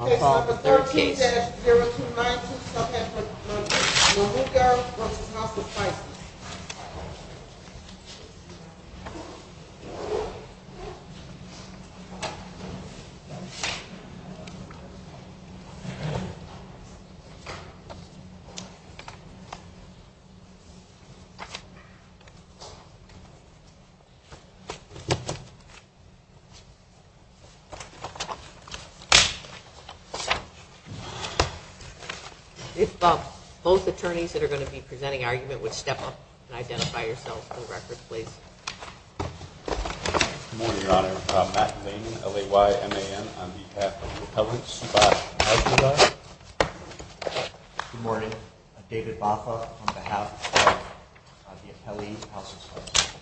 Case No. 13-0292, Suffolk v. Mahmoudgar v. House of Spices If both attorneys that are going to be presenting argument would step up and identify yourselves for the record, please. Good morning, Your Honor. Matt Lehman, L-A-Y-M-A-N, on behalf of the appellant, Subodd v. Mahmoudgar. Good morning. David Bafa, on behalf of the appellee, House of Spices.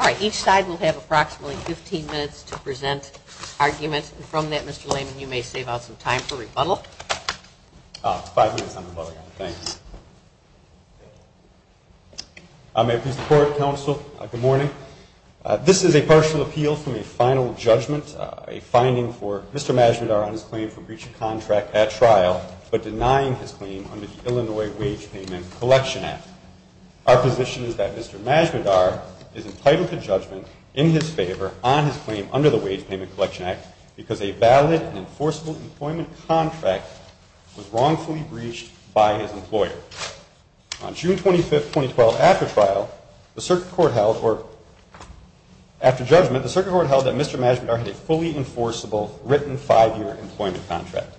All right, each side will have approximately 15 minutes to present arguments. And from that, Mr. Lehman, you may save out some time for rebuttal. Five minutes on rebuttal, Your Honor. Thanks. May I please report, counsel? Good morning. This is a partial appeal from a final judgment, a finding for Mr. Mahmoudgar on his claim for breach of contract at trial, but denying his claim under the Illinois Wage Payment Collection Act. Our position is that Mr. Mahmoudgar is entitled to judgment in his favor on his claim under the Wage Payment Collection Act because a valid and enforceable employment contract was wrongfully breached by his employer. On June 25, 2012, after trial, the circuit court held, or after judgment, the circuit court held that Mr. Mahmoudgar had a fully enforceable written five-year employment contract.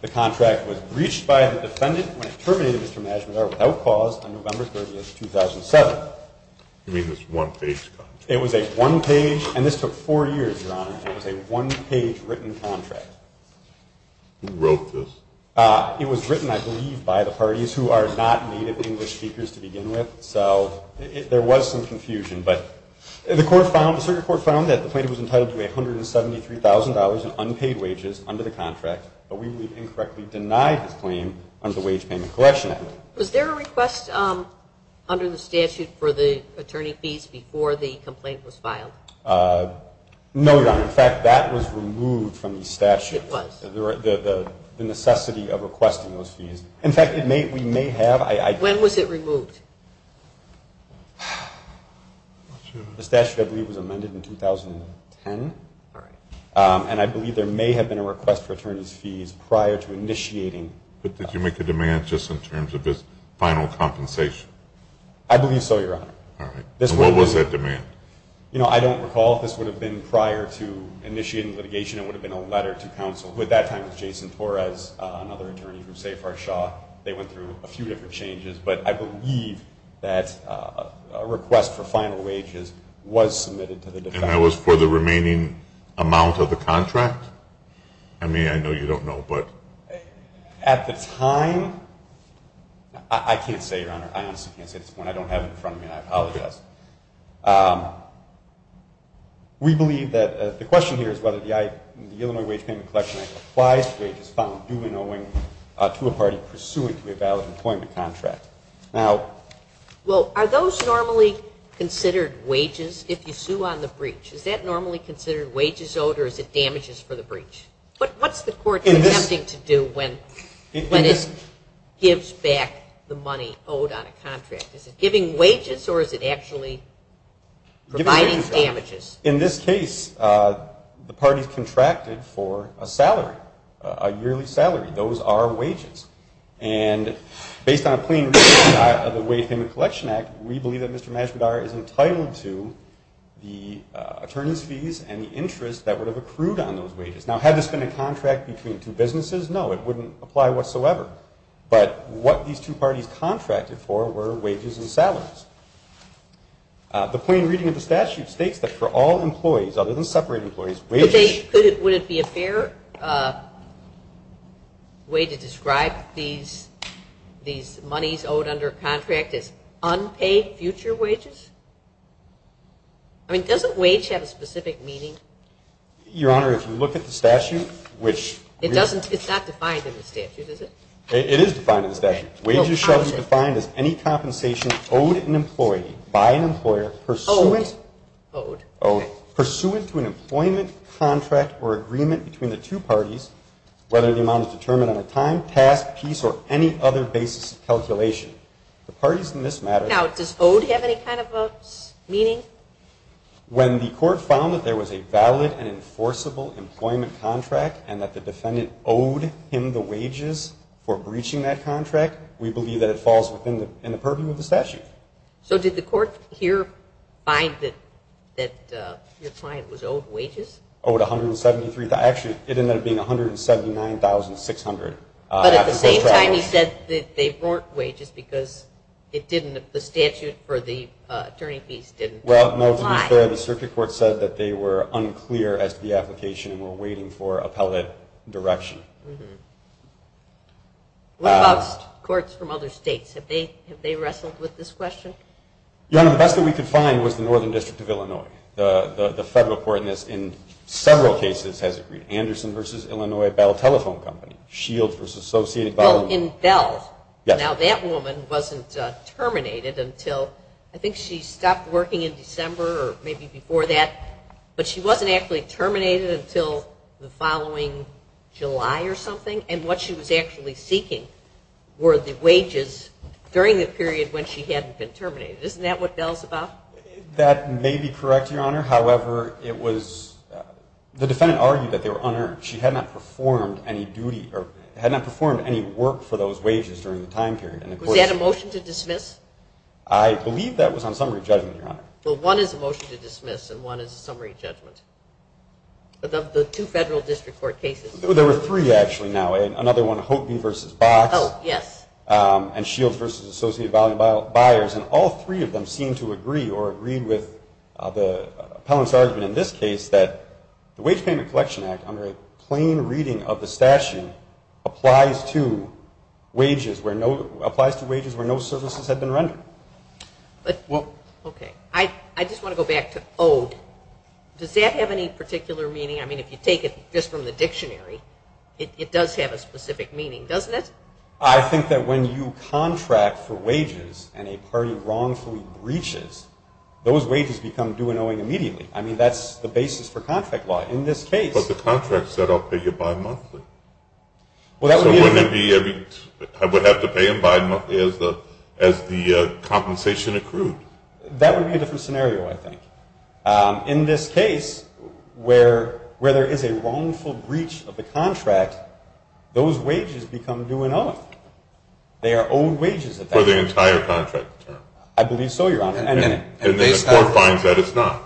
The contract was breached by the defendant when it terminated Mr. Mahmoudgar without cause on November 30, 2007. You mean this one-page contract? It was a one-page, and this took four years, Your Honor, it was a one-page written contract. Who wrote this? It was written, I believe, by the parties who are not native English speakers to begin with. So there was some confusion. But the circuit court found that the plaintiff was entitled to $173,000 in unpaid wages under the contract, but we would incorrectly deny his claim under the Wage Payment Collection Act. Was there a request under the statute for the attorney fees before the complaint was filed? No, Your Honor. In fact, that was removed from the statute, the necessity of requesting those fees. In fact, we may have. When was it removed? The statute, I believe, was amended in 2010, and I believe there may have been a request for attorney's fees prior to initiating. But did you make a demand just in terms of his final compensation? I believe so, Your Honor. All right. And what was that demand? You know, I don't recall if this would have been prior to initiating litigation. It would have been a letter to counsel. At that time, it was Jason Torres, another attorney from Safer Shaw. They went through a few different changes. But I believe that a request for final wages was submitted to the defense. And that was for the remaining amount of the contract? I mean, I know you don't know, but. At the time, I can't say, Your Honor. I honestly can't say at this point. I don't have it in front of me, and I apologize. We believe that the question here is whether the Illinois Wage Payment Collection Act applies to wages found due and owing to a party pursuing to be a valid employment contract. Now. Well, are those normally considered wages if you sue on the breach? Is that normally considered wages owed, or is it damages for the breach? What's the court attempting to do when it gives back the money owed on a contract? Is it giving wages, or is it actually providing damages? In this case, the parties contracted for a salary, a yearly salary. Those are wages. And based on a clean record of the Wage Payment Collection Act, we believe that Mr. Mashbedar is entitled to the attorney's fees and the interest that would have accrued on those wages. Now, had this been a contract between two businesses, no, it wouldn't apply whatsoever. But what these two parties contracted for were wages and salaries. The plain reading of the statute states that for all employees other than separate employees, wages. Would it be a fair way to describe these monies owed under a contract as unpaid future wages? I mean, doesn't wage have a specific meaning? Your Honor, if you look at the statute, which. It's not defined in the statute, is it? It is defined in the statute. Wages shall be defined as any compensation owed an employee by an employer pursuant. Owed. Owed. Pursuant to an employment contract or agreement between the two parties, whether the amount is determined on a time, task, piece, or any other basis of calculation. The parties in this matter. Now, does owed have any kind of meaning? When the court found that there was a valid and enforceable employment contract and that the defendant owed him the wages for breaching that contract, we believe that it falls within the purview of the statute. So did the court here find that your client was owed wages? Owed $173,000. Actually, it ended up being $179,600. But at the same time he said that they weren't wages because it didn't. The statute for the attorney fees didn't apply. Well, no, to be fair, the circuit court said that they were unclear as to the application and were waiting for appellate direction. What about courts from other states? Have they wrestled with this question? Your Honor, the best that we could find was the Northern District of Illinois. The federal court in this, in several cases, has agreed. Anderson v. Illinois Bell Telephone Company. Shield v. Associated Value. In Bell? Yes. Now that woman wasn't terminated until I think she stopped working in December or maybe before that. But she wasn't actually terminated until the following July or something. And what she was actually seeking were the wages during the period when she hadn't been terminated. Isn't that what Bell's about? That may be correct, Your Honor. However, it was, the defendant argued that they were unearned. She had not performed any duty or had not performed any work for those wages during the time period. I believe that was on summary judgment, Your Honor. Well, one is a motion to dismiss and one is a summary judgment. The two federal district court cases. There were three, actually, now. Another one, Hopi v. Box. Oh, yes. And Shield v. Associated Value Buyers. And all three of them seemed to agree or agreed with the appellant's argument in this case that the Wage Payment Collection Act, under a plain reading of the statute, applies to wages where no services had been rendered. Okay. I just want to go back to owed. Does that have any particular meaning? I mean, if you take it just from the dictionary, it does have a specific meaning, doesn't it? I think that when you contract for wages and a party wrongfully breaches, those wages become due and owing immediately. I mean, that's the basis for contract law in this case. But the contract said I'll pay you bimonthly. So wouldn't it be I would have to pay him bimonthly as the compensation accrued? That would be a different scenario, I think. In this case, where there is a wrongful breach of the contract, those wages become due and owing. They are owed wages at that point. For the entire contract term. I believe so, Your Honor. And then the court finds that it's not.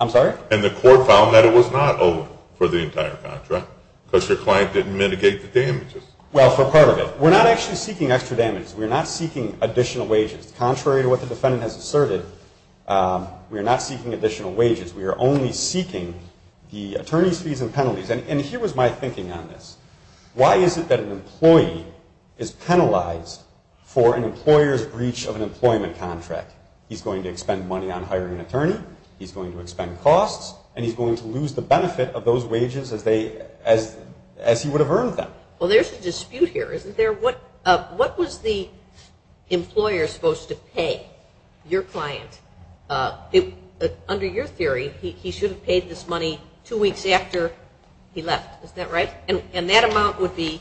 I'm sorry? And the court found that it was not owed for the entire contract because your client didn't mitigate the damages. Well, for part of it. We're not actually seeking extra damages. We're not seeking additional wages. Contrary to what the defendant has asserted, we are not seeking additional wages. We are only seeking the attorney's fees and penalties. And here was my thinking on this. Why is it that an employee is penalized for an employer's breach of an employment contract? He's going to expend money on hiring an attorney. He's going to expend costs. And he's going to lose the benefit of those wages as he would have earned them. Well, there's a dispute here, isn't there? What was the employer supposed to pay your client? Under your theory, he should have paid this money two weeks after he left. Isn't that right? And that amount would be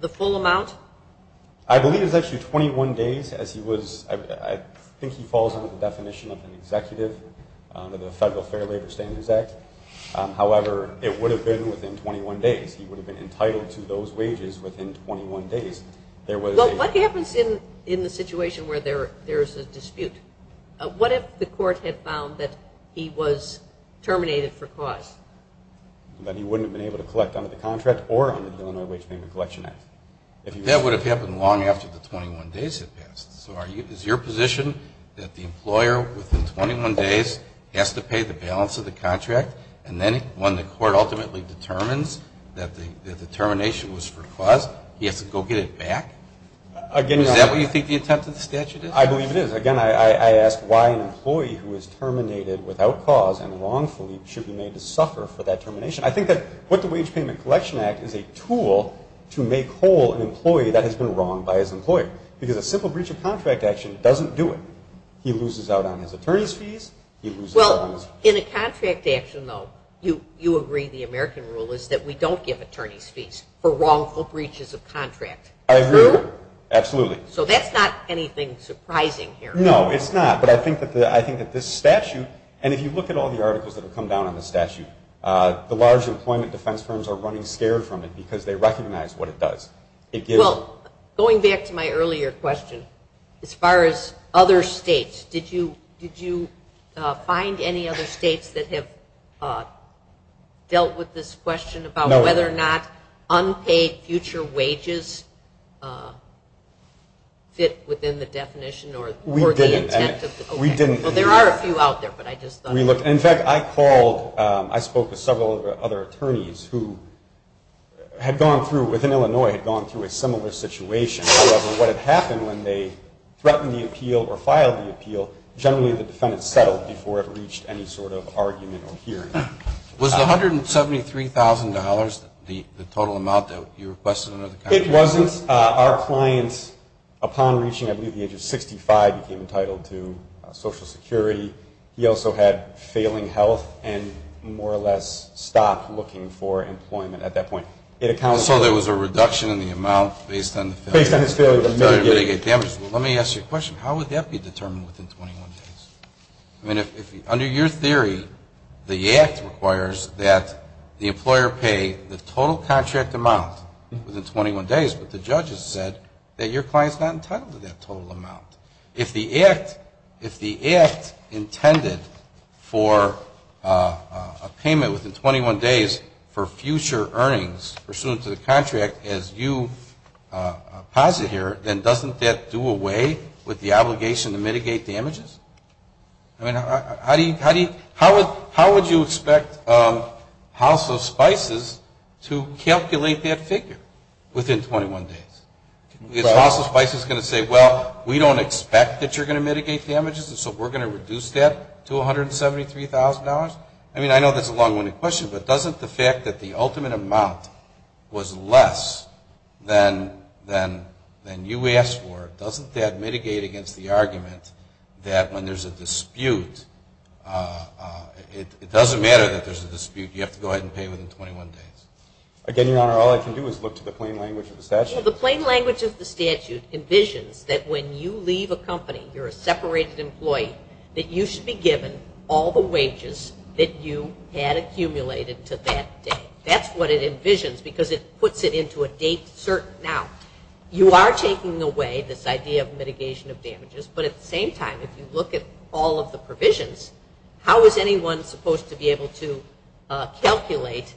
the full amount? I believe it was actually 21 days. I think he falls under the definition of an executive under the Federal Fair Labor Standards Act. However, it would have been within 21 days. He would have been entitled to those wages within 21 days. What happens in the situation where there's a dispute? What if the court had found that he was terminated for cause? Then he wouldn't have been able to collect under the contract or under the Illinois Wage Payment Collection Act. That would have happened long after the 21 days had passed. So is your position that the employer within 21 days has to pay the balance of the contract, and then when the court ultimately determines that the termination was for cause, he has to go get it back? Is that what you think the intent of the statute is? I believe it is. Again, I ask why an employee who is terminated without cause and wrongfully should be made to suffer for that termination. I think that what the Wage Payment Collection Act is a tool to make whole an employee that has been wronged by his employer because a simple breach of contract action doesn't do it. He loses out on his attorney's fees. He loses out on his- Well, in a contract action, though, you agree the American rule is that we don't give attorney's fees for wrongful breaches of contract. I agree. True? Absolutely. So that's not anything surprising here. No, it's not. But I think that this statute, and if you look at all the articles that have come down on the statute, the large employment defense firms are running scared from it because they recognize what it does. It gives- Well, going back to my earlier question, as far as other states, did you find any other states that have dealt with this question about whether or not unpaid future wages fit within the definition or the intent of- We didn't. Okay. Well, there are a few out there, but I just thought- In fact, I called, I spoke with several other attorneys who had gone through, within Illinois had gone through a similar situation. However, what had happened when they threatened the appeal or filed the appeal, generally the defendant settled before it reached any sort of argument or hearing. Was the $173,000 the total amount that you requested under the contract? It wasn't. Our client, upon reaching, I believe, the age of 65, became entitled to Social Security. He also had failing health and more or less stopped looking for employment at that point. So there was a reduction in the amount based on the failure- Based on his failure to mitigate. Well, let me ask you a question. How would that be determined within 21 days? I mean, under your theory, the act requires that the employer pay the total contract amount within 21 days, but the judge has said that your client is not entitled to that total amount. If the act intended for a payment within 21 days for future earnings pursuant to the contract, as you posit here, then doesn't that do away with the obligation to mitigate damages? I mean, how would you expect House of Spices to calculate that figure within 21 days? Is House of Spices going to say, well, we don't expect that you're going to mitigate damages, and so we're going to reduce that to $173,000? I mean, I know that's a long-winded question, but doesn't the fact that the ultimate amount was less than you asked for, doesn't that mitigate against the argument that when there's a dispute, it doesn't matter that there's a dispute, you have to go ahead and pay within 21 days? Again, Your Honor, all I can do is look to the plain language of the statute. The plain language of the statute envisions that when you leave a company, you're a separated employee, that you should be given all the wages that you had accumulated to that day. That's what it envisions because it puts it into a date certain. Now, you are taking away this idea of mitigation of damages, but at the same time, if you look at all of the provisions, how is anyone supposed to be able to calculate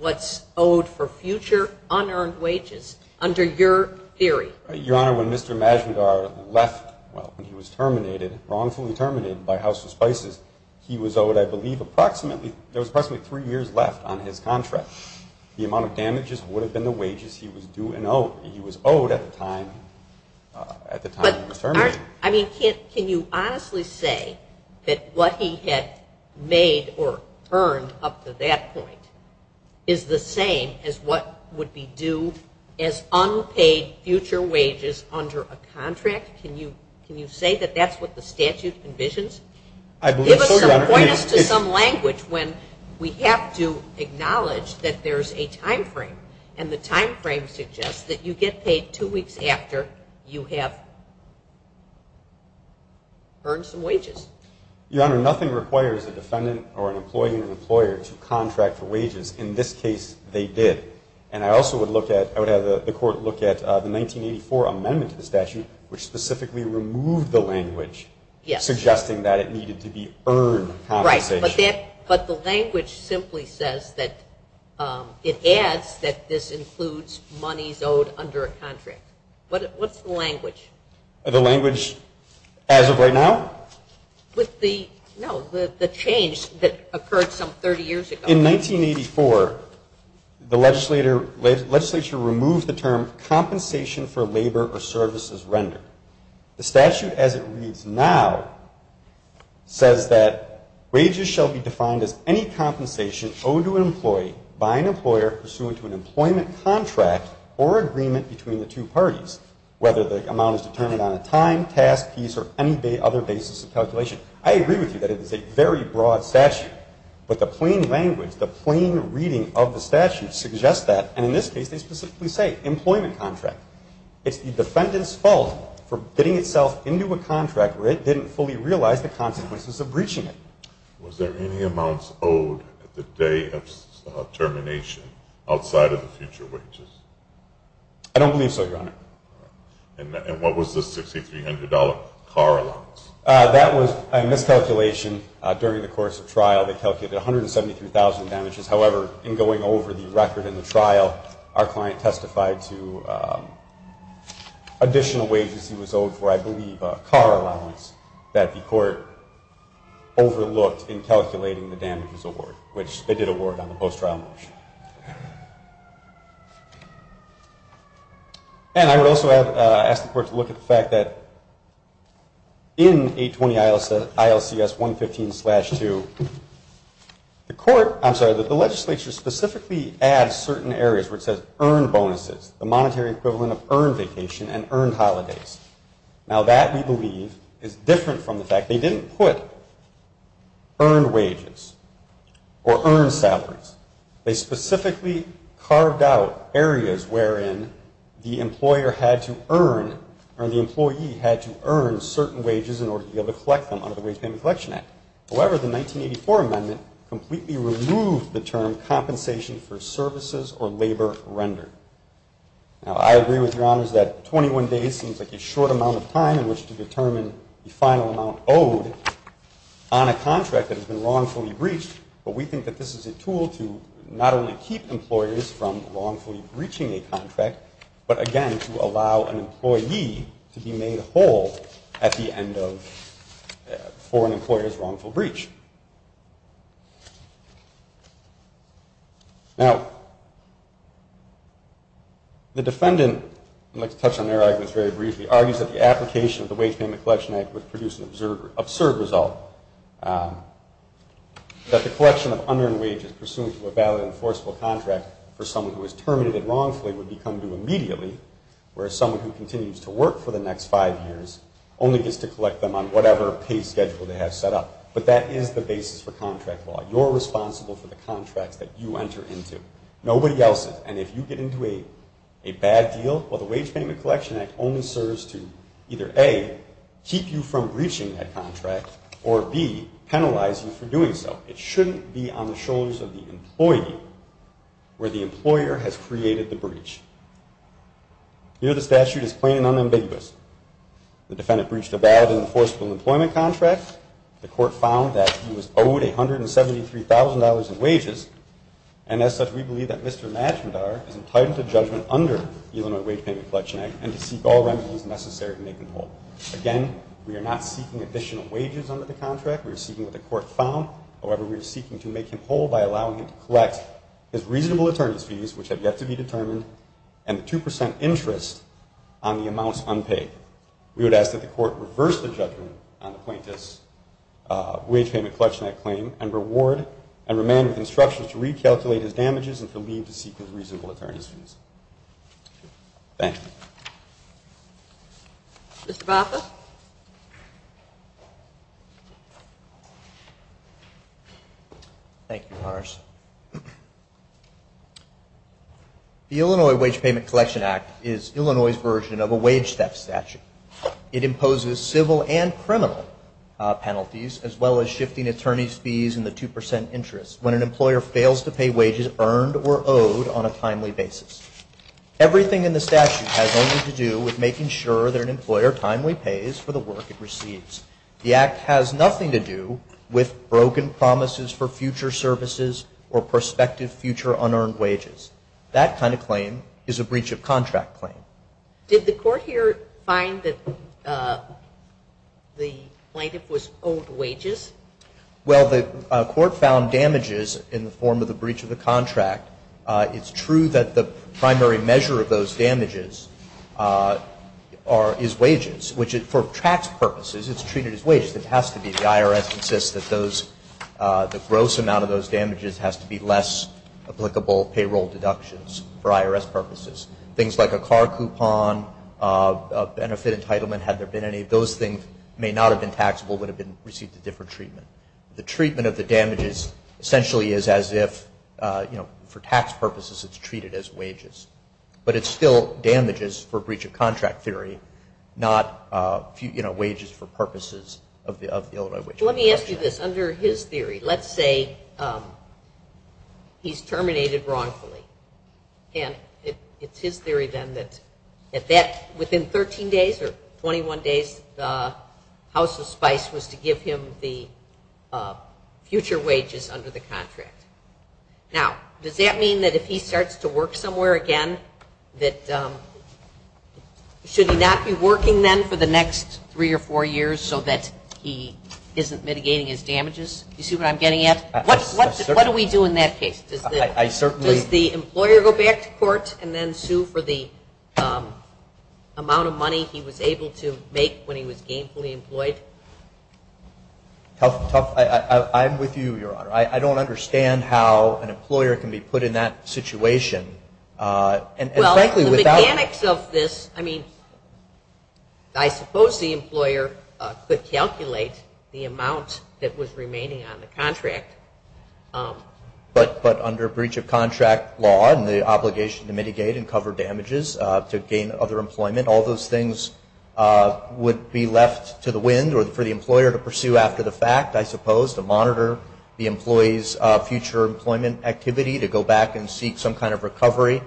what's owed for future unearned wages under your theory? Your Honor, when Mr. Majmdar left, well, when he was terminated, wrongfully terminated by House of Spices, he was owed, I believe, approximately, there was approximately three years left on his contract. The amount of damages would have been the wages he was owed at the time he was terminated. I mean, can you honestly say that what he had made or earned up to that point is the same as what would be due as unpaid future wages under a contract? Can you say that that's what the statute envisions? I believe so, Your Honor. Point us to some language when we have to acknowledge that there's a timeframe, and the timeframe suggests that you get paid two weeks after you have earned some wages. Your Honor, nothing requires a defendant or an employee or an employer to contract for wages. In this case, they did. And I also would look at, I would have the Court look at the 1984 amendment to the statute, which specifically removed the language suggesting that it needed to be earned compensation. But the language simply says that it adds that this includes monies owed under a contract. What's the language? The language as of right now? No, the change that occurred some 30 years ago. In 1984, the legislature removed the term compensation for labor or services rendered. The statute as it reads now says that wages shall be defined as any compensation owed to an employee by an employer pursuant to an employment contract or agreement between the two parties, whether the amount is determined on a time, task, piece, or any other basis of calculation. I agree with you that it is a very broad statute. But the plain language, the plain reading of the statute suggests that, and in this case they specifically say employment contract. It's the defendant's fault for getting itself into a contract where it didn't fully realize the consequences of breaching it. Was there any amounts owed at the day of termination outside of the future wages? I don't believe so, Your Honor. And what was the $6,300 car allowance? That was a miscalculation during the course of trial. They calculated 173,000 damages. However, in going over the record in the trial, our client testified to additional wages he was owed for, I believe, a car allowance that the court overlooked in calculating the damages award, which they did award on the post-trial motion. And I would also ask the court to look at the fact that in 820 ILCS 115-2, the legislature specifically adds certain areas where it says earned bonuses, the monetary equivalent of earned vacation and earned holidays. Now, that, we believe, is different from the fact they didn't put earned wages or earned salaries. They specifically carved out areas wherein the employer had to earn or the employee had to earn certain wages in order to be able to collect them under the Wage Payment Collection Act. However, the 1984 amendment completely removed the term compensation for services or labor rendered. Now, I agree with Your Honors that 21 days seems like a short amount of time in which to determine the final amount owed on a contract that has been wrongfully breached, but we think that this is a tool to not only keep employers and to allow an employee to be made whole at the end of a foreign employer's wrongful breach. Now, the defendant, I'd like to touch on their arguments very briefly, argues that the application of the Wage Payment Collection Act would produce an absurd result, that the collection of unearned wages pursuant to a valid enforceable contract for someone who is terminated wrongfully would become due immediately, whereas someone who continues to work for the next five years only gets to collect them on whatever pay schedule they have set up. But that is the basis for contract law. You're responsible for the contracts that you enter into. Nobody else is. And if you get into a bad deal, well, the Wage Payment Collection Act only serves to either, A, keep you from breaching that contract, or, B, penalize you for doing so. It shouldn't be on the shoulders of the employee where the employer has created the breach. Here, the statute is plain and unambiguous. The defendant breached a valid enforceable employment contract. The court found that he was owed $173,000 in wages. And as such, we believe that Mr. Machendar is entitled to judgment under the Illinois Wage Payment Collection Act and to seek all remedies necessary to make him whole. Again, we are not seeking additional wages under the contract. We are seeking what the court found. However, we are seeking to make him whole by allowing him to collect his reasonable attorney's fees, which have yet to be determined, and the 2% interest on the amounts unpaid. We would ask that the court reverse the judgment on the plaintiff's Wage Payment Collection Act claim and reward and remain with instructions to recalculate his damages and to leave to seek his reasonable attorney's fees. Thank you. Mr. Bafa. Thank you, Honors. The Illinois Wage Payment Collection Act is Illinois' version of a wage theft statute. It imposes civil and criminal penalties, as well as shifting attorney's fees and the 2% interest when an employer fails to pay wages earned or owed on a timely basis. Everything in the statute has only to do with making sure that an employer timely pays for the work it receives. The act has nothing to do with broken promises for future services or prospective future unearned wages. That kind of claim is a breach of contract claim. Did the court here find that the plaintiff was owed wages? Well, the court found damages in the form of the breach of the contract. It's true that the primary measure of those damages is wages, which for tax purposes it's treated as wages. It has to be. The IRS insists that the gross amount of those damages has to be less applicable payroll deductions for IRS purposes. Things like a car coupon, benefit entitlement, had there been any, those things may not have been taxable but have received a different treatment. The treatment of the damages essentially is as if, you know, for tax purposes it's treated as wages. But it's still damages for breach of contract theory, not wages for purposes of the Illinois Wage Act. Let me ask you this. Under his theory, let's say he's terminated wrongfully, and it's his theory then that within 13 days or 21 days the House of Spice was to give him the future wages under the contract. Now, does that mean that if he starts to work somewhere again that should he not be working then for the next three or four years so that he isn't mitigating his damages? You see what I'm getting at? What do we do in that case? Does the employer go back to court and then sue for the amount of money he was able to make when he was gainfully employed? I'm with you, Your Honor. I don't understand how an employer can be put in that situation. Well, the mechanics of this, I mean, I suppose the employer could calculate the amount that was remaining on the contract. But under breach of contract law and the obligation to mitigate and cover damages to gain other employment, all those things would be left to the wind or for the employer to pursue after the fact, I suppose, to monitor the employee's future employment activity to go back and seek some kind of recovery.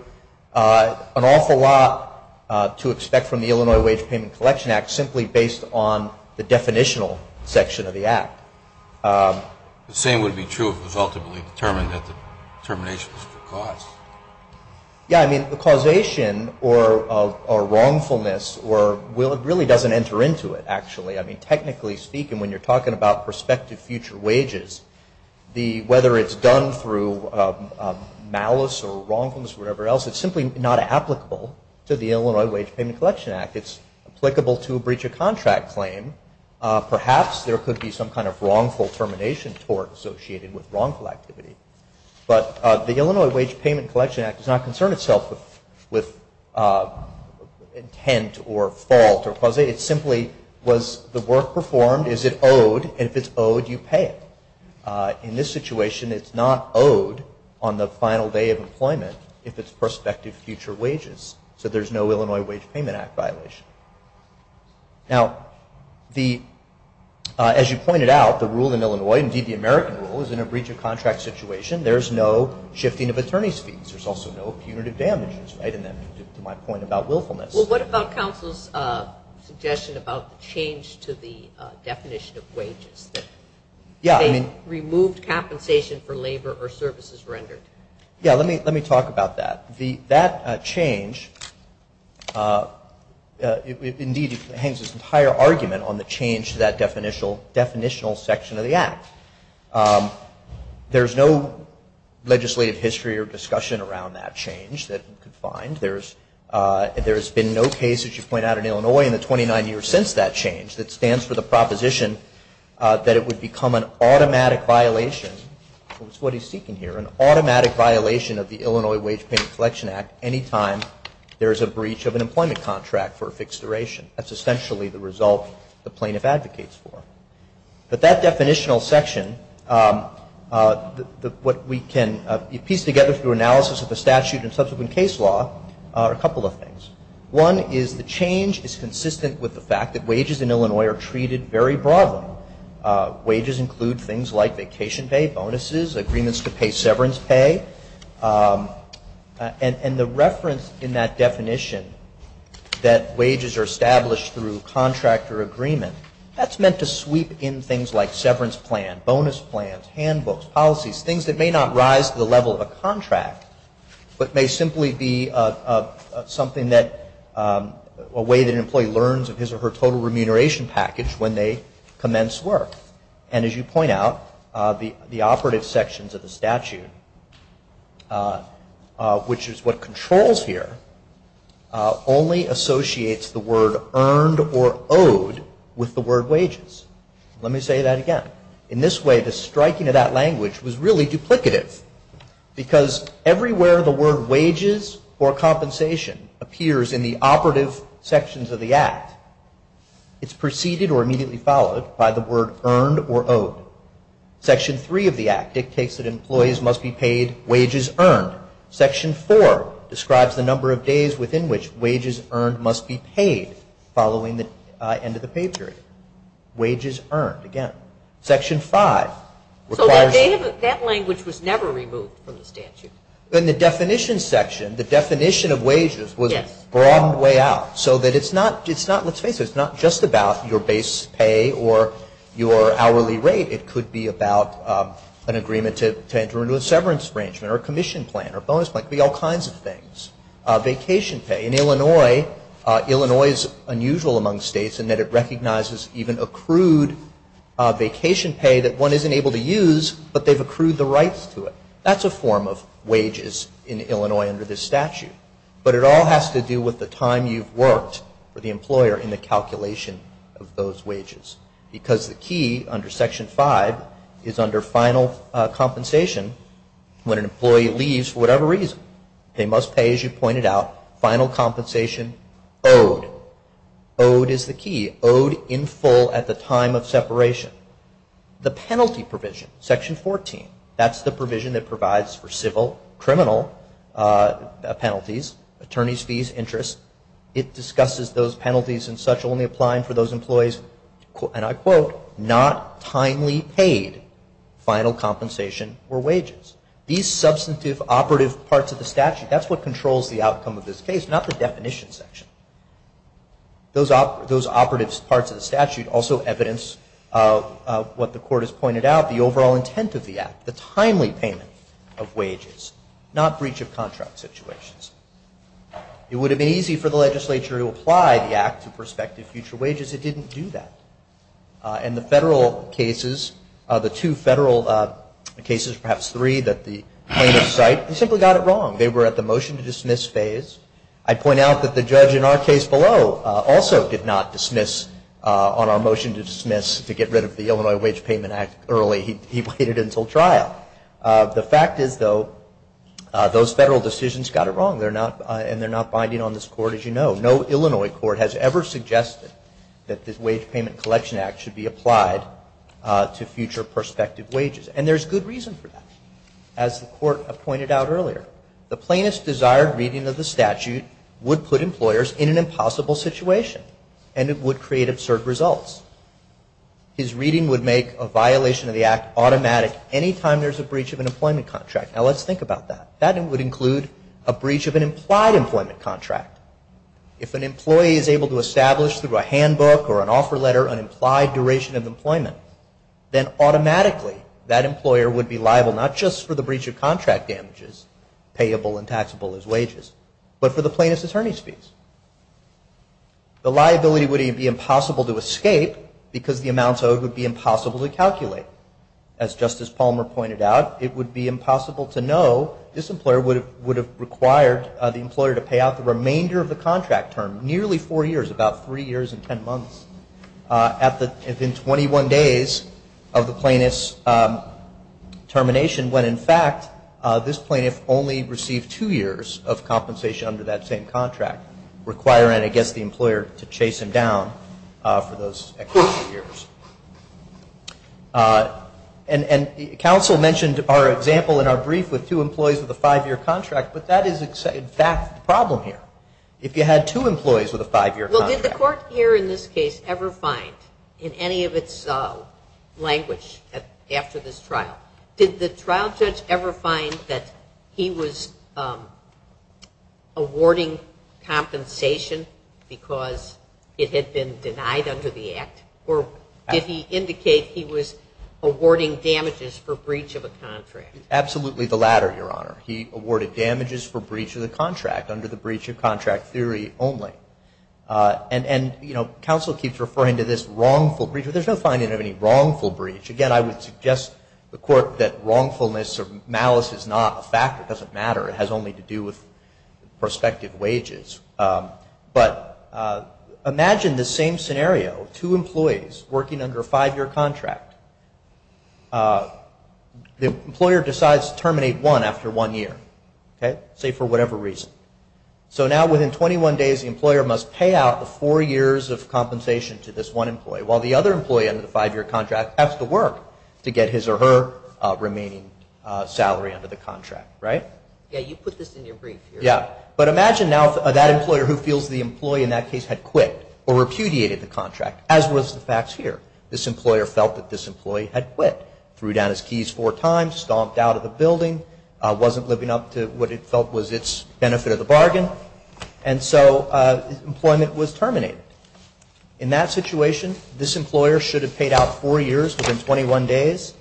An awful lot to expect from the Illinois Wage Payment Collection Act simply based on the definitional section of the act. The same would be true if it was ultimately determined that the termination was for cause. Yeah, I mean, the causation or wrongfulness really doesn't enter into it, actually. I mean, technically speaking, when you're talking about prospective future wages, whether it's done through malice or wrongfulness or whatever else, it's simply not applicable to the Illinois Wage Payment Collection Act. It's applicable to a breach of contract claim. Perhaps there could be some kind of wrongful termination tort associated with wrongful activity. But the Illinois Wage Payment Collection Act does not concern itself with intent or fault or causation. It simply was the work performed. Is it owed? And if it's owed, you pay it. In this situation, it's not owed on the final day of employment if it's prospective future wages. So there's no Illinois Wage Payment Act violation. Now, as you pointed out, the rule in Illinois, indeed the American rule, is in a breach of contract situation. There's no shifting of attorney's fees. There's also no punitive damages, right? And then to my point about willfulness. Well, what about counsel's suggestion about the change to the definition of wages? Yeah, I mean. They removed compensation for labor or services rendered. Yeah, let me talk about that. That change, indeed, hangs this entire argument on the change to that definitional section of the act. There's no legislative history or discussion around that change that we could find. There has been no case, as you point out, in Illinois in the 29 years since that change that stands for the proposition that it would become an automatic violation. That's what he's seeking here, an automatic violation of the Illinois Wage Payment Collection Act any time there is a breach of an employment contract for a fixed duration. That's essentially the result the plaintiff advocates for. But that definitional section, what we can piece together through analysis of the statute and subsequent case law are a couple of things. One is the change is consistent with the fact that wages in Illinois are treated very broadly. Wages include things like vacation pay, bonuses, agreements to pay severance pay. And the reference in that definition that wages are established through contractor agreement, that's meant to sweep in things like severance plan, bonus plans, handbooks, policies, things that may not rise to the level of a contract but may simply be something that a way that an employee learns of his or her total remuneration package when they commence work. And as you point out, the operative sections of the statute, which is what controls here, only associates the word earned or owed with the word wages. Let me say that again. In this way, the striking of that language was really duplicative because everywhere the word wages or compensation appears in the operative sections of the act, it's preceded or immediately followed by the word earned or owed. Section three of the act dictates that employees must be paid wages earned. Section four describes the number of days within which wages earned must be paid following the end of the pay period. Wages earned, again. Section five requires. So that language was never removed from the statute. In the definition section, the definition of wages was broadened way out so that it's not, let's face it, it's not just about your base pay or your hourly rate. It could be about an agreement to enter into a severance arrangement or a commission plan or a bonus plan. It could be all kinds of things. Vacation pay. In Illinois, Illinois is unusual among states in that it recognizes even accrued vacation pay that one isn't able to use, but they've accrued the rights to it. That's a form of wages in Illinois under this statute. But it all has to do with the time you've worked for the employer in the calculation of those wages. Because the key under section five is under final compensation when an employee leaves for whatever reason. They must pay, as you pointed out, final compensation owed. Owed is the key. Owed in full at the time of separation. The penalty provision, section 14, that's the provision that provides for civil criminal penalties, attorneys' fees, interest. It discusses those penalties and such only applying for those employees, and I quote, not timely paid final compensation or wages. These substantive operative parts of the statute, that's what controls the outcome of this case, not the definition section. Those operative parts of the statute also evidence what the court has pointed out, the overall intent of the act, the timely payment of wages, not breach of contract situations. It would have been easy for the legislature to apply the act to prospective future wages. It didn't do that. And the federal cases, the two federal cases, perhaps three that the plaintiffs cite, they simply got it wrong. They were at the motion to dismiss phase. I'd point out that the judge in our case below also did not dismiss on our motion to dismiss to get rid of the Illinois Wage Payment Act early. He waited until trial. The fact is, though, those federal decisions got it wrong. And they're not binding on this court, as you know. No Illinois court has ever suggested that the Wage Payment Collection Act should be applied to future prospective wages. And there's good reason for that. As the court pointed out earlier, the plaintiff's desired reading of the statute would put employers in an impossible situation and it would create absurd results. His reading would make a violation of the act automatic any time there's a breach of an employment contract. Now, let's think about that. That would include a breach of an implied employment contract. If an employee is able to establish through a handbook or an offer letter an implied duration of employment, then automatically that employer would be liable not just for the breach of contract damages, payable and taxable as wages, but for the plaintiff's attorney's fees. The liability would be impossible to escape because the amounts owed would be impossible to calculate. As Justice Palmer pointed out, it would be impossible to know this employer would have required the employer to pay out the remainder of the contract term, nearly four years, about three years and ten months, if in 21 days of the plaintiff's termination, when in fact this plaintiff only received two years of compensation under that same contract, requiring, I guess, the employer to chase him down for those extra two years. And counsel mentioned our example in our brief with two employees with a five year contract, but that is in fact the problem here. If you had two employees with a five year contract. Well, did the court here in this case ever find in any of its language after this trial, did the trial judge ever find that he was awarding compensation because it had been denied under the act or did he indicate he was awarding damages for breach of a contract? Absolutely the latter, Your Honor. He awarded damages for breach of the contract under the breach of contract theory only. And, you know, counsel keeps referring to this wrongful breach, but there's no finding of any wrongful breach. Again, I would suggest to the court that wrongfulness or malice is not a fact. It doesn't matter. It has only to do with prospective wages. But imagine the same scenario, two employees working under a five year contract. The employer decides to terminate one after one year, okay, say for whatever reason. So now within 21 days the employer must pay out the four years of compensation to this one employee, while the other employee under the five year contract has to work to get his or her remaining salary under the contract, right? Yeah, you put this in your brief here. Yeah, but imagine now that employer who feels the employee in that case had quit or repudiated the contract, as was the facts here. This employer felt that this employee had quit, threw down his keys four times, stomped out of the building, wasn't living up to what it felt was its benefit of the bargain, and so employment was terminated. In that situation this employer should have paid out four years within 21 days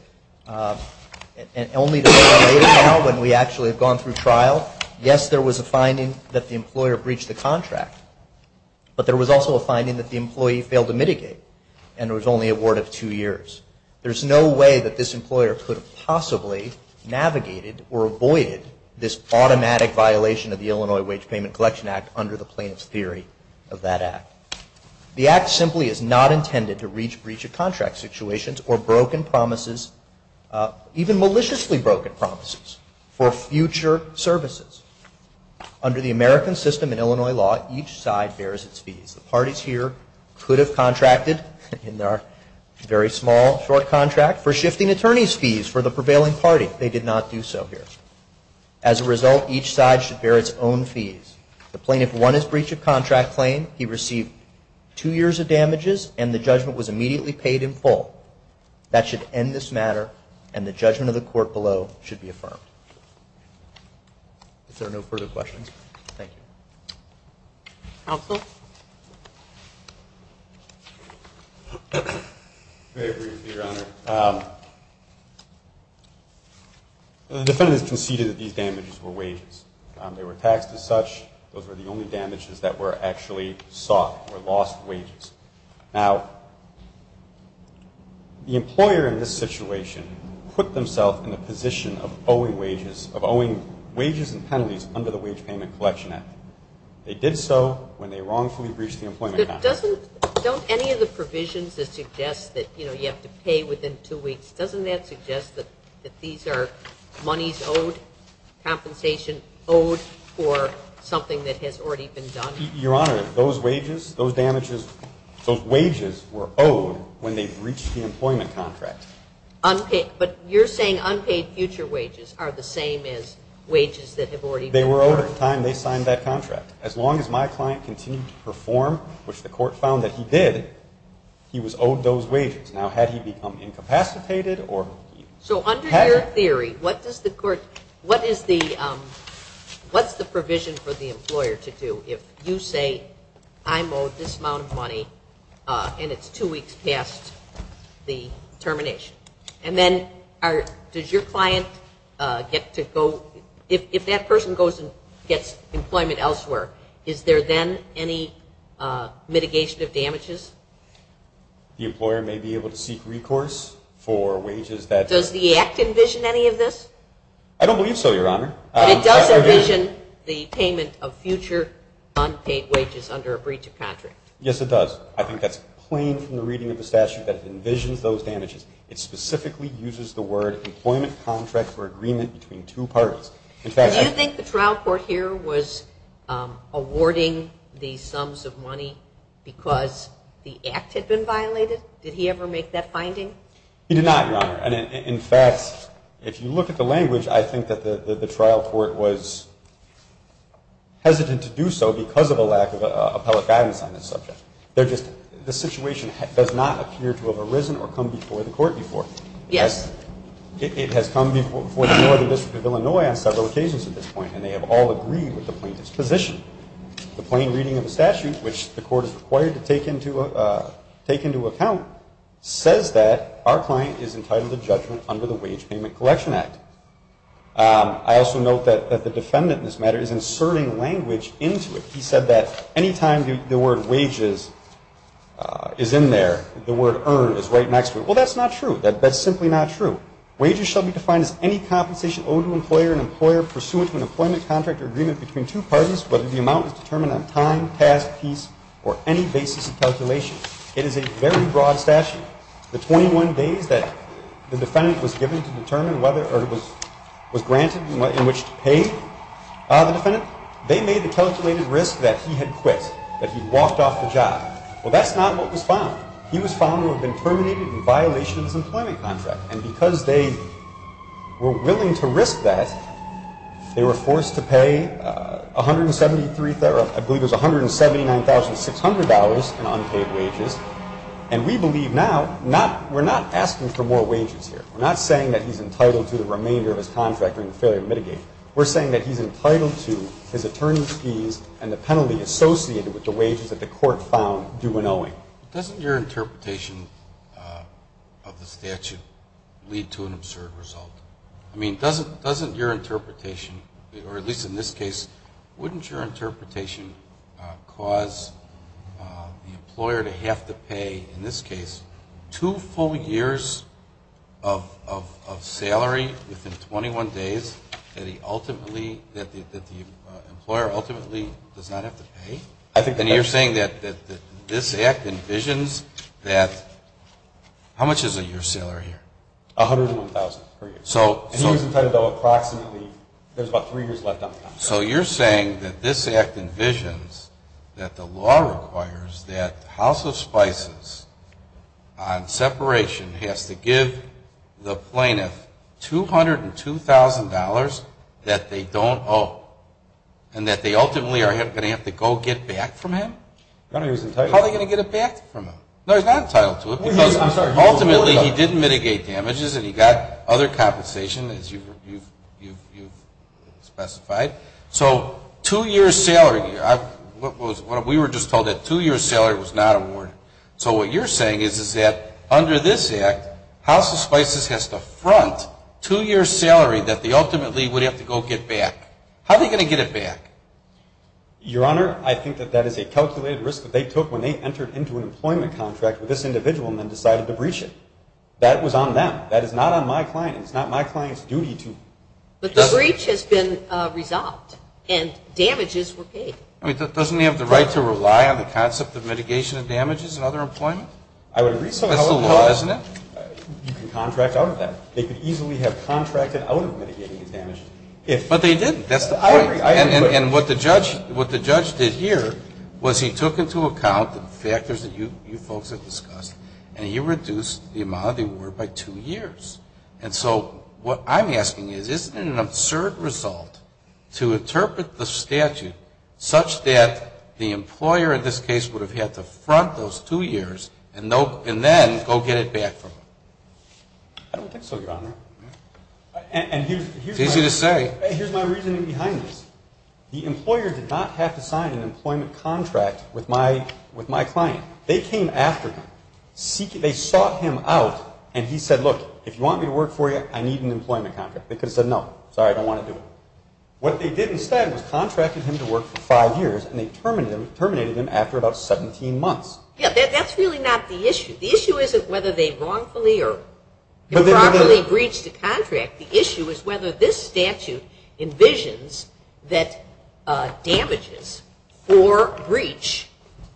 and only to be terminated now when we actually have gone through trial. Yes, there was a finding that the employer breached the contract, but there was also a finding that the employee failed to mitigate and was only awarded two years. There's no way that this employer could have possibly navigated or avoided this automatic violation of the Illinois Wage Payment Collection Act under the plaintiff's theory of that act. The act simply is not intended to reach breach of contract situations or broken promises, even maliciously broken promises, for future services. Under the American system in Illinois law, each side bears its fees. The parties here could have contracted in their very small, short contract for shifting attorney's fees for the prevailing party. They did not do so here. As a result, each side should bear its own fees. The plaintiff won his breach of contract claim. He received two years of damages, and the judgment was immediately paid in full. That should end this matter, and the judgment of the court below should be affirmed. If there are no further questions, thank you. Counsel? Very briefly, Your Honor. The defendants conceded that these damages were wages. They were taxed as such. Those were the only damages that were actually sought or lost wages. Now, the employer in this situation put themselves in the position of owing wages and penalties under the Wage Payment Collection Act. They did so when they wrongfully breached the employment contract. Don't any of the provisions that suggest that you have to pay within two weeks, doesn't that suggest that these are monies owed, compensation owed for something that has already been done? Your Honor, those wages, those damages, those wages were owed when they breached the employment contract. Unpaid. But you're saying unpaid future wages are the same as wages that have already been earned. They were owed at the time they signed that contract. As long as my client continued to perform, which the court found that he did, he was owed those wages. Now, had he become incapacitated or had he? So under your theory, what does the court, what is the, what's the provision for the employer to do if you say I'm owed this amount of money and it's two weeks past the termination? And then does your client get to go, if that person goes and gets employment elsewhere, is there then any mitigation of damages? The employer may be able to seek recourse for wages that. Does the act envision any of this? I don't believe so, Your Honor. It does envision the payment of future unpaid wages under a breach of contract. Yes, it does. I think that's plain from the reading of the statute that it envisions those damages. It specifically uses the word employment contract for agreement between two parties. Do you think the trial court here was awarding the sums of money because the act had been violated? Did he ever make that finding? He did not, Your Honor. In fact, if you look at the language, I think that the trial court was hesitant to do so because of a lack of appellate guidance on this subject. They're just, the situation does not appear to have arisen or come before the court before. Yes. It has come before the Northern District of Illinois on several occasions at this point, and they have all agreed with the plaintiff's position. The plain reading of the statute, which the court is required to take into account, says that our client is entitled to judgment under the Wage Payment Collection Act. I also note that the defendant in this matter is inserting language into it. He said that any time the word wages is in there, the word earn is right next to it. Well, that's not true. That's simply not true. Wages shall be defined as any compensation owed to an employer pursuant to an employment contract or agreement between two parties, whether the amount is determined on time, task, piece, or any basis of calculation. It is a very broad statute. The 21 days that the defendant was given to determine whether or was granted in which to pay the defendant, they made the calculated risk that he had quit, that he'd walked off the job. Well, that's not what was found. He was found to have been terminated in violation of his employment contract, and because they were willing to risk that, they were forced to pay, I believe it was $179,600 in unpaid wages. And we believe now we're not asking for more wages here. We're not saying that he's entitled to the remainder of his contract during the failure to mitigate. We're saying that he's entitled to his attorney's fees and the penalty associated with the wages that the court found due in owing. Doesn't your interpretation of the statute lead to an absurd result? I mean, doesn't your interpretation, or at least in this case, wouldn't your interpretation cause the employer to have to pay, in this case, two full years of salary within 21 days that the employer ultimately does not have to pay? And you're saying that this Act envisions that, how much is a year's salary here? $101,000 per year. So he's entitled to approximately, there's about three years left on the contract. So you're saying that this Act envisions that the law requires that House of Spices on separation has to give the plaintiff $202,000 that they don't owe, and that they ultimately are going to have to go get back from him? How are they going to get it back from him? No, he's not entitled to it, because ultimately he didn't mitigate damages and he got other compensation, as you've specified. So two years' salary, we were just told that two years' salary was not awarded. So what you're saying is that under this Act, House of Spices has to front two years' salary that they ultimately would have to go get back. How are they going to get it back? Your Honor, I think that that is a calculated risk that they took when they entered into an employment contract with this individual and then decided to breach it. That was on them. That is not on my client, and it's not my client's duty to. But the breach has been resolved, and damages were paid. I mean, doesn't he have the right to rely on the concept of mitigation of damages in other employment? I would agree so. That's the law, isn't it? You can contract out of that. They could easily have contracted out of mitigating the damage. But they didn't. That's the point. I agree. And what the judge did here was he took into account the factors that you folks have discussed, and he reduced the amount of the award by two years. And so what I'm asking is, isn't it an absurd result to interpret the statute such that the employer in this case would have had to front those two years and then go get it back from them? I don't think so, Your Honor. It's easy to say. Here's my reasoning behind this. The employer did not have to sign an employment contract with my client. They came after him. They sought him out, and he said, look, if you want me to work for you, I need an employment contract. They could have said, no, sorry, I don't want to do it. What they did instead was contracted him to work for five years, and they terminated him after about 17 months. Yeah, that's really not the issue. The issue isn't whether they wrongfully or improperly breached a contract. The issue is whether this statute envisions that damages for breach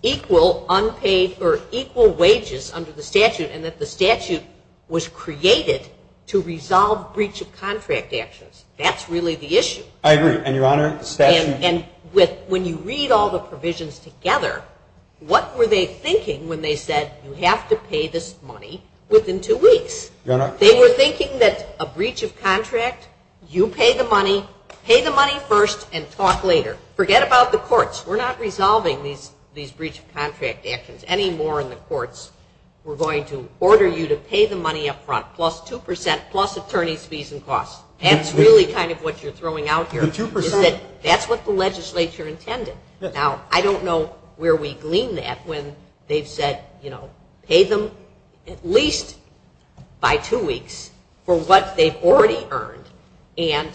equal unpaid or equal wages under the statute and that the statute was created to resolve breach of contract actions. That's really the issue. I agree. And, Your Honor, the statute. And when you read all the provisions together, what were they thinking when they said you have to pay this money within two weeks? Your Honor. They were thinking that a breach of contract, you pay the money, pay the money first and talk later. Forget about the courts. We're not resolving these breach of contract actions anymore in the courts. We're going to order you to pay the money up front, plus 2%, plus attorney's fees and costs. That's really kind of what you're throwing out here. The 2%. That's what the legislature intended. Now, I don't know where we glean that when they've said, you know, pay them at least by two weeks for what they've already earned. And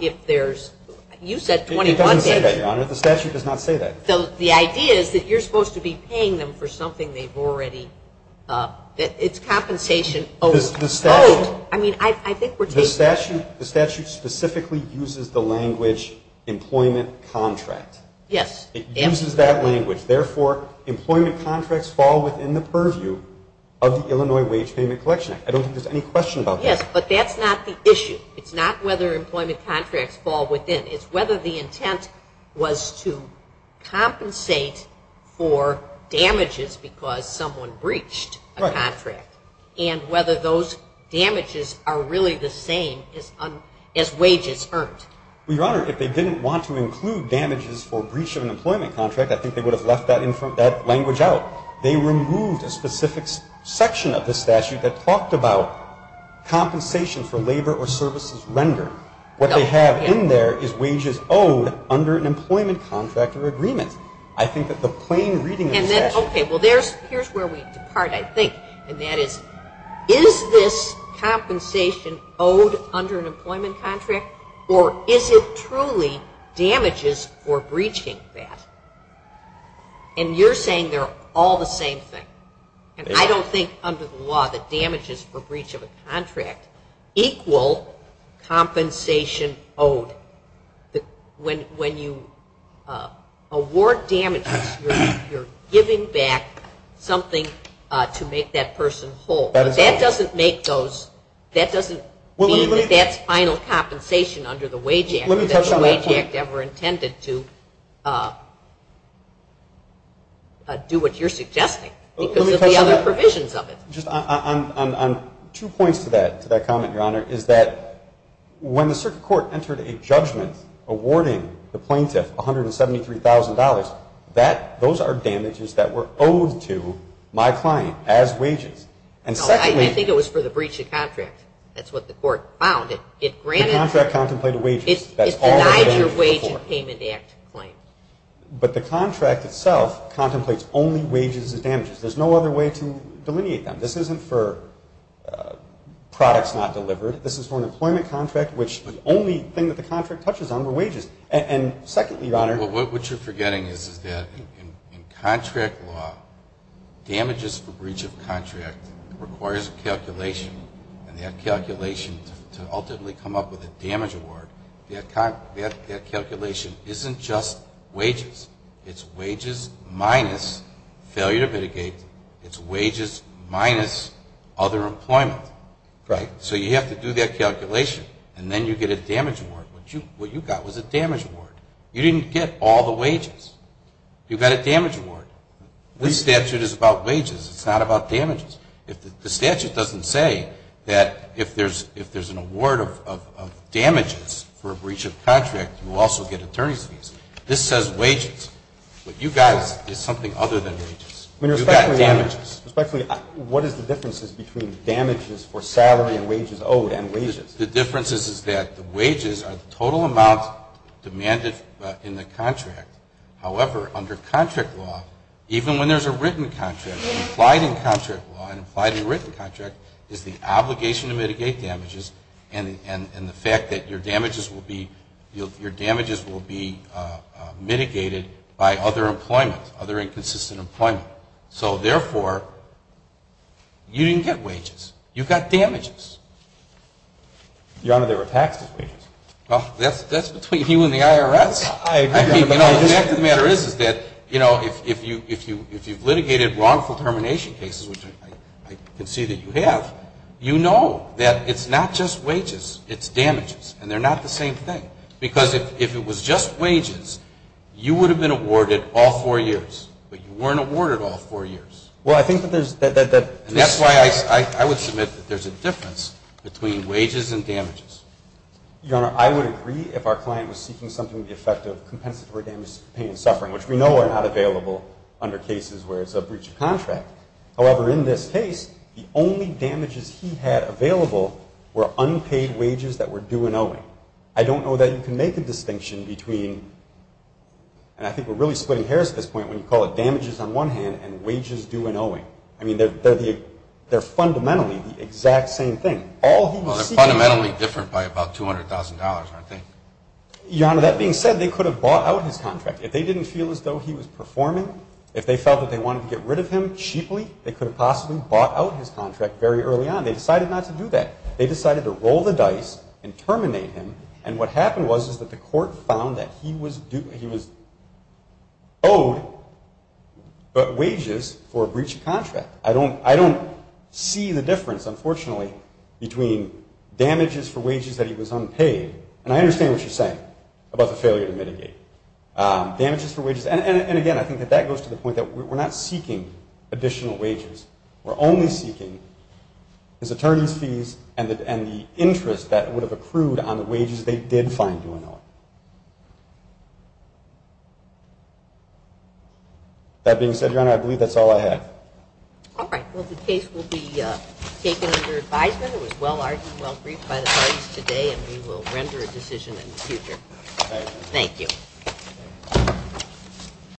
if there's, you said 21 days. It doesn't say that, Your Honor. The statute does not say that. The idea is that you're supposed to be paying them for something they've already, it's compensation owed. I mean, I think we're taking that. The statute specifically uses the language employment contract. Yes. It uses that language. Therefore, employment contracts fall within the purview of the Illinois Wage Payment Collection Act. I don't think there's any question about that. Yes, but that's not the issue. It's not whether employment contracts fall within. It's whether the intent was to compensate for damages because someone breached a contract. And whether those damages are really the same as wages earned. Your Honor, if they didn't want to include damages for breach of an employment contract, I think they would have left that language out. They removed a specific section of the statute that talked about compensation for labor or services rendered. What they have in there is wages owed under an employment contract or agreement. I think that the plain reading of the statute. Okay, well, here's where we depart, I think. And that is, is this compensation owed under an employment contract or is it truly damages for breaching that? And you're saying they're all the same thing. And I don't think under the law that damages for breach of a contract equal compensation owed. When you award damages, you're giving back something to make that person whole. But that doesn't make those, that doesn't mean that that's final compensation under the Wage Act or the Wage Act ever intended to do what you're suggesting because of the other provisions of it. Just on two points to that, to that comment, Your Honor, is that when the circuit court entered a judgment awarding the plaintiff $173,000, that, those are damages that were owed to my client as wages. And secondly. No, I think it was for the breach of contract. That's what the court found. It granted. The contract contemplated wages. It denied your Wage and Payment Act claim. But the contract itself contemplates only wages as damages. There's no other way to delineate them. This isn't for products not delivered. This is for an employment contract, which the only thing that the contract touches on were wages. And secondly, Your Honor. What you're forgetting is that in contract law, damages for breach of contract requires a calculation. And that calculation to ultimately come up with a damage award, that calculation isn't just wages. It's wages minus failure to mitigate. It's wages minus other employment. Right. So you have to do that calculation. And then you get a damage award. What you got was a damage award. You didn't get all the wages. You got a damage award. This statute is about wages. It's not about damages. The statute doesn't say that if there's an award of damages for a breach of This says wages. What you got is something other than wages. You got damages. Respectfully, what is the difference between damages for salary and wages owed and wages? The difference is that the wages are the total amount demanded in the contract. However, under contract law, even when there's a written contract, implied in contract law and implied in written contract is the obligation to mitigate damages and the fact that your damages will be mitigated by other employment, other inconsistent employment. So, therefore, you didn't get wages. You got damages. Your Honor, there were taxes. Well, that's between you and the IRS. The fact of the matter is that if you've litigated wrongful termination cases, which I can see that you have, you know that it's not just wages. It's damages. And they're not the same thing because if it was just wages, you would have been awarded all four years. But you weren't awarded all four years. Well, I think that there's – And that's why I would submit that there's a difference between wages and damages. Your Honor, I would agree if our client was seeking something with the effect of compensatory damages for pain and suffering, which we know are not available under cases where it's a breach of contract. However, in this case, the only damages he had available were unpaid wages that were due and owing. I don't know that you can make a distinction between – and I think we're really splitting hairs at this point when you call it damages on one hand and wages due and owing. I mean, they're fundamentally the exact same thing. All he was seeking – Well, they're fundamentally different by about $200,000, aren't they? Your Honor, that being said, they could have bought out his contract. If they didn't feel as though he was performing, if they felt that they wanted to get rid of him cheaply, they could have possibly bought out his contract very early on. They decided not to do that. They decided to roll the dice and terminate him, and what happened was is that the court found that he was owed wages for a breach of contract. I don't see the difference, unfortunately, between damages for wages that he was unpaid – and I understand what you're saying about the failure to mitigate – damages for wages. And, again, I think that that goes to the point that we're not seeking additional wages. We're only seeking his attorney's fees and the interest that would have accrued on the wages they did find due and owing. That being said, Your Honor, I believe that's all I have. All right. Well, the case will be taken under advisement. It was well-argued, well-briefed by the parties today, and we will render a decision in the future. Thank you. Thank you.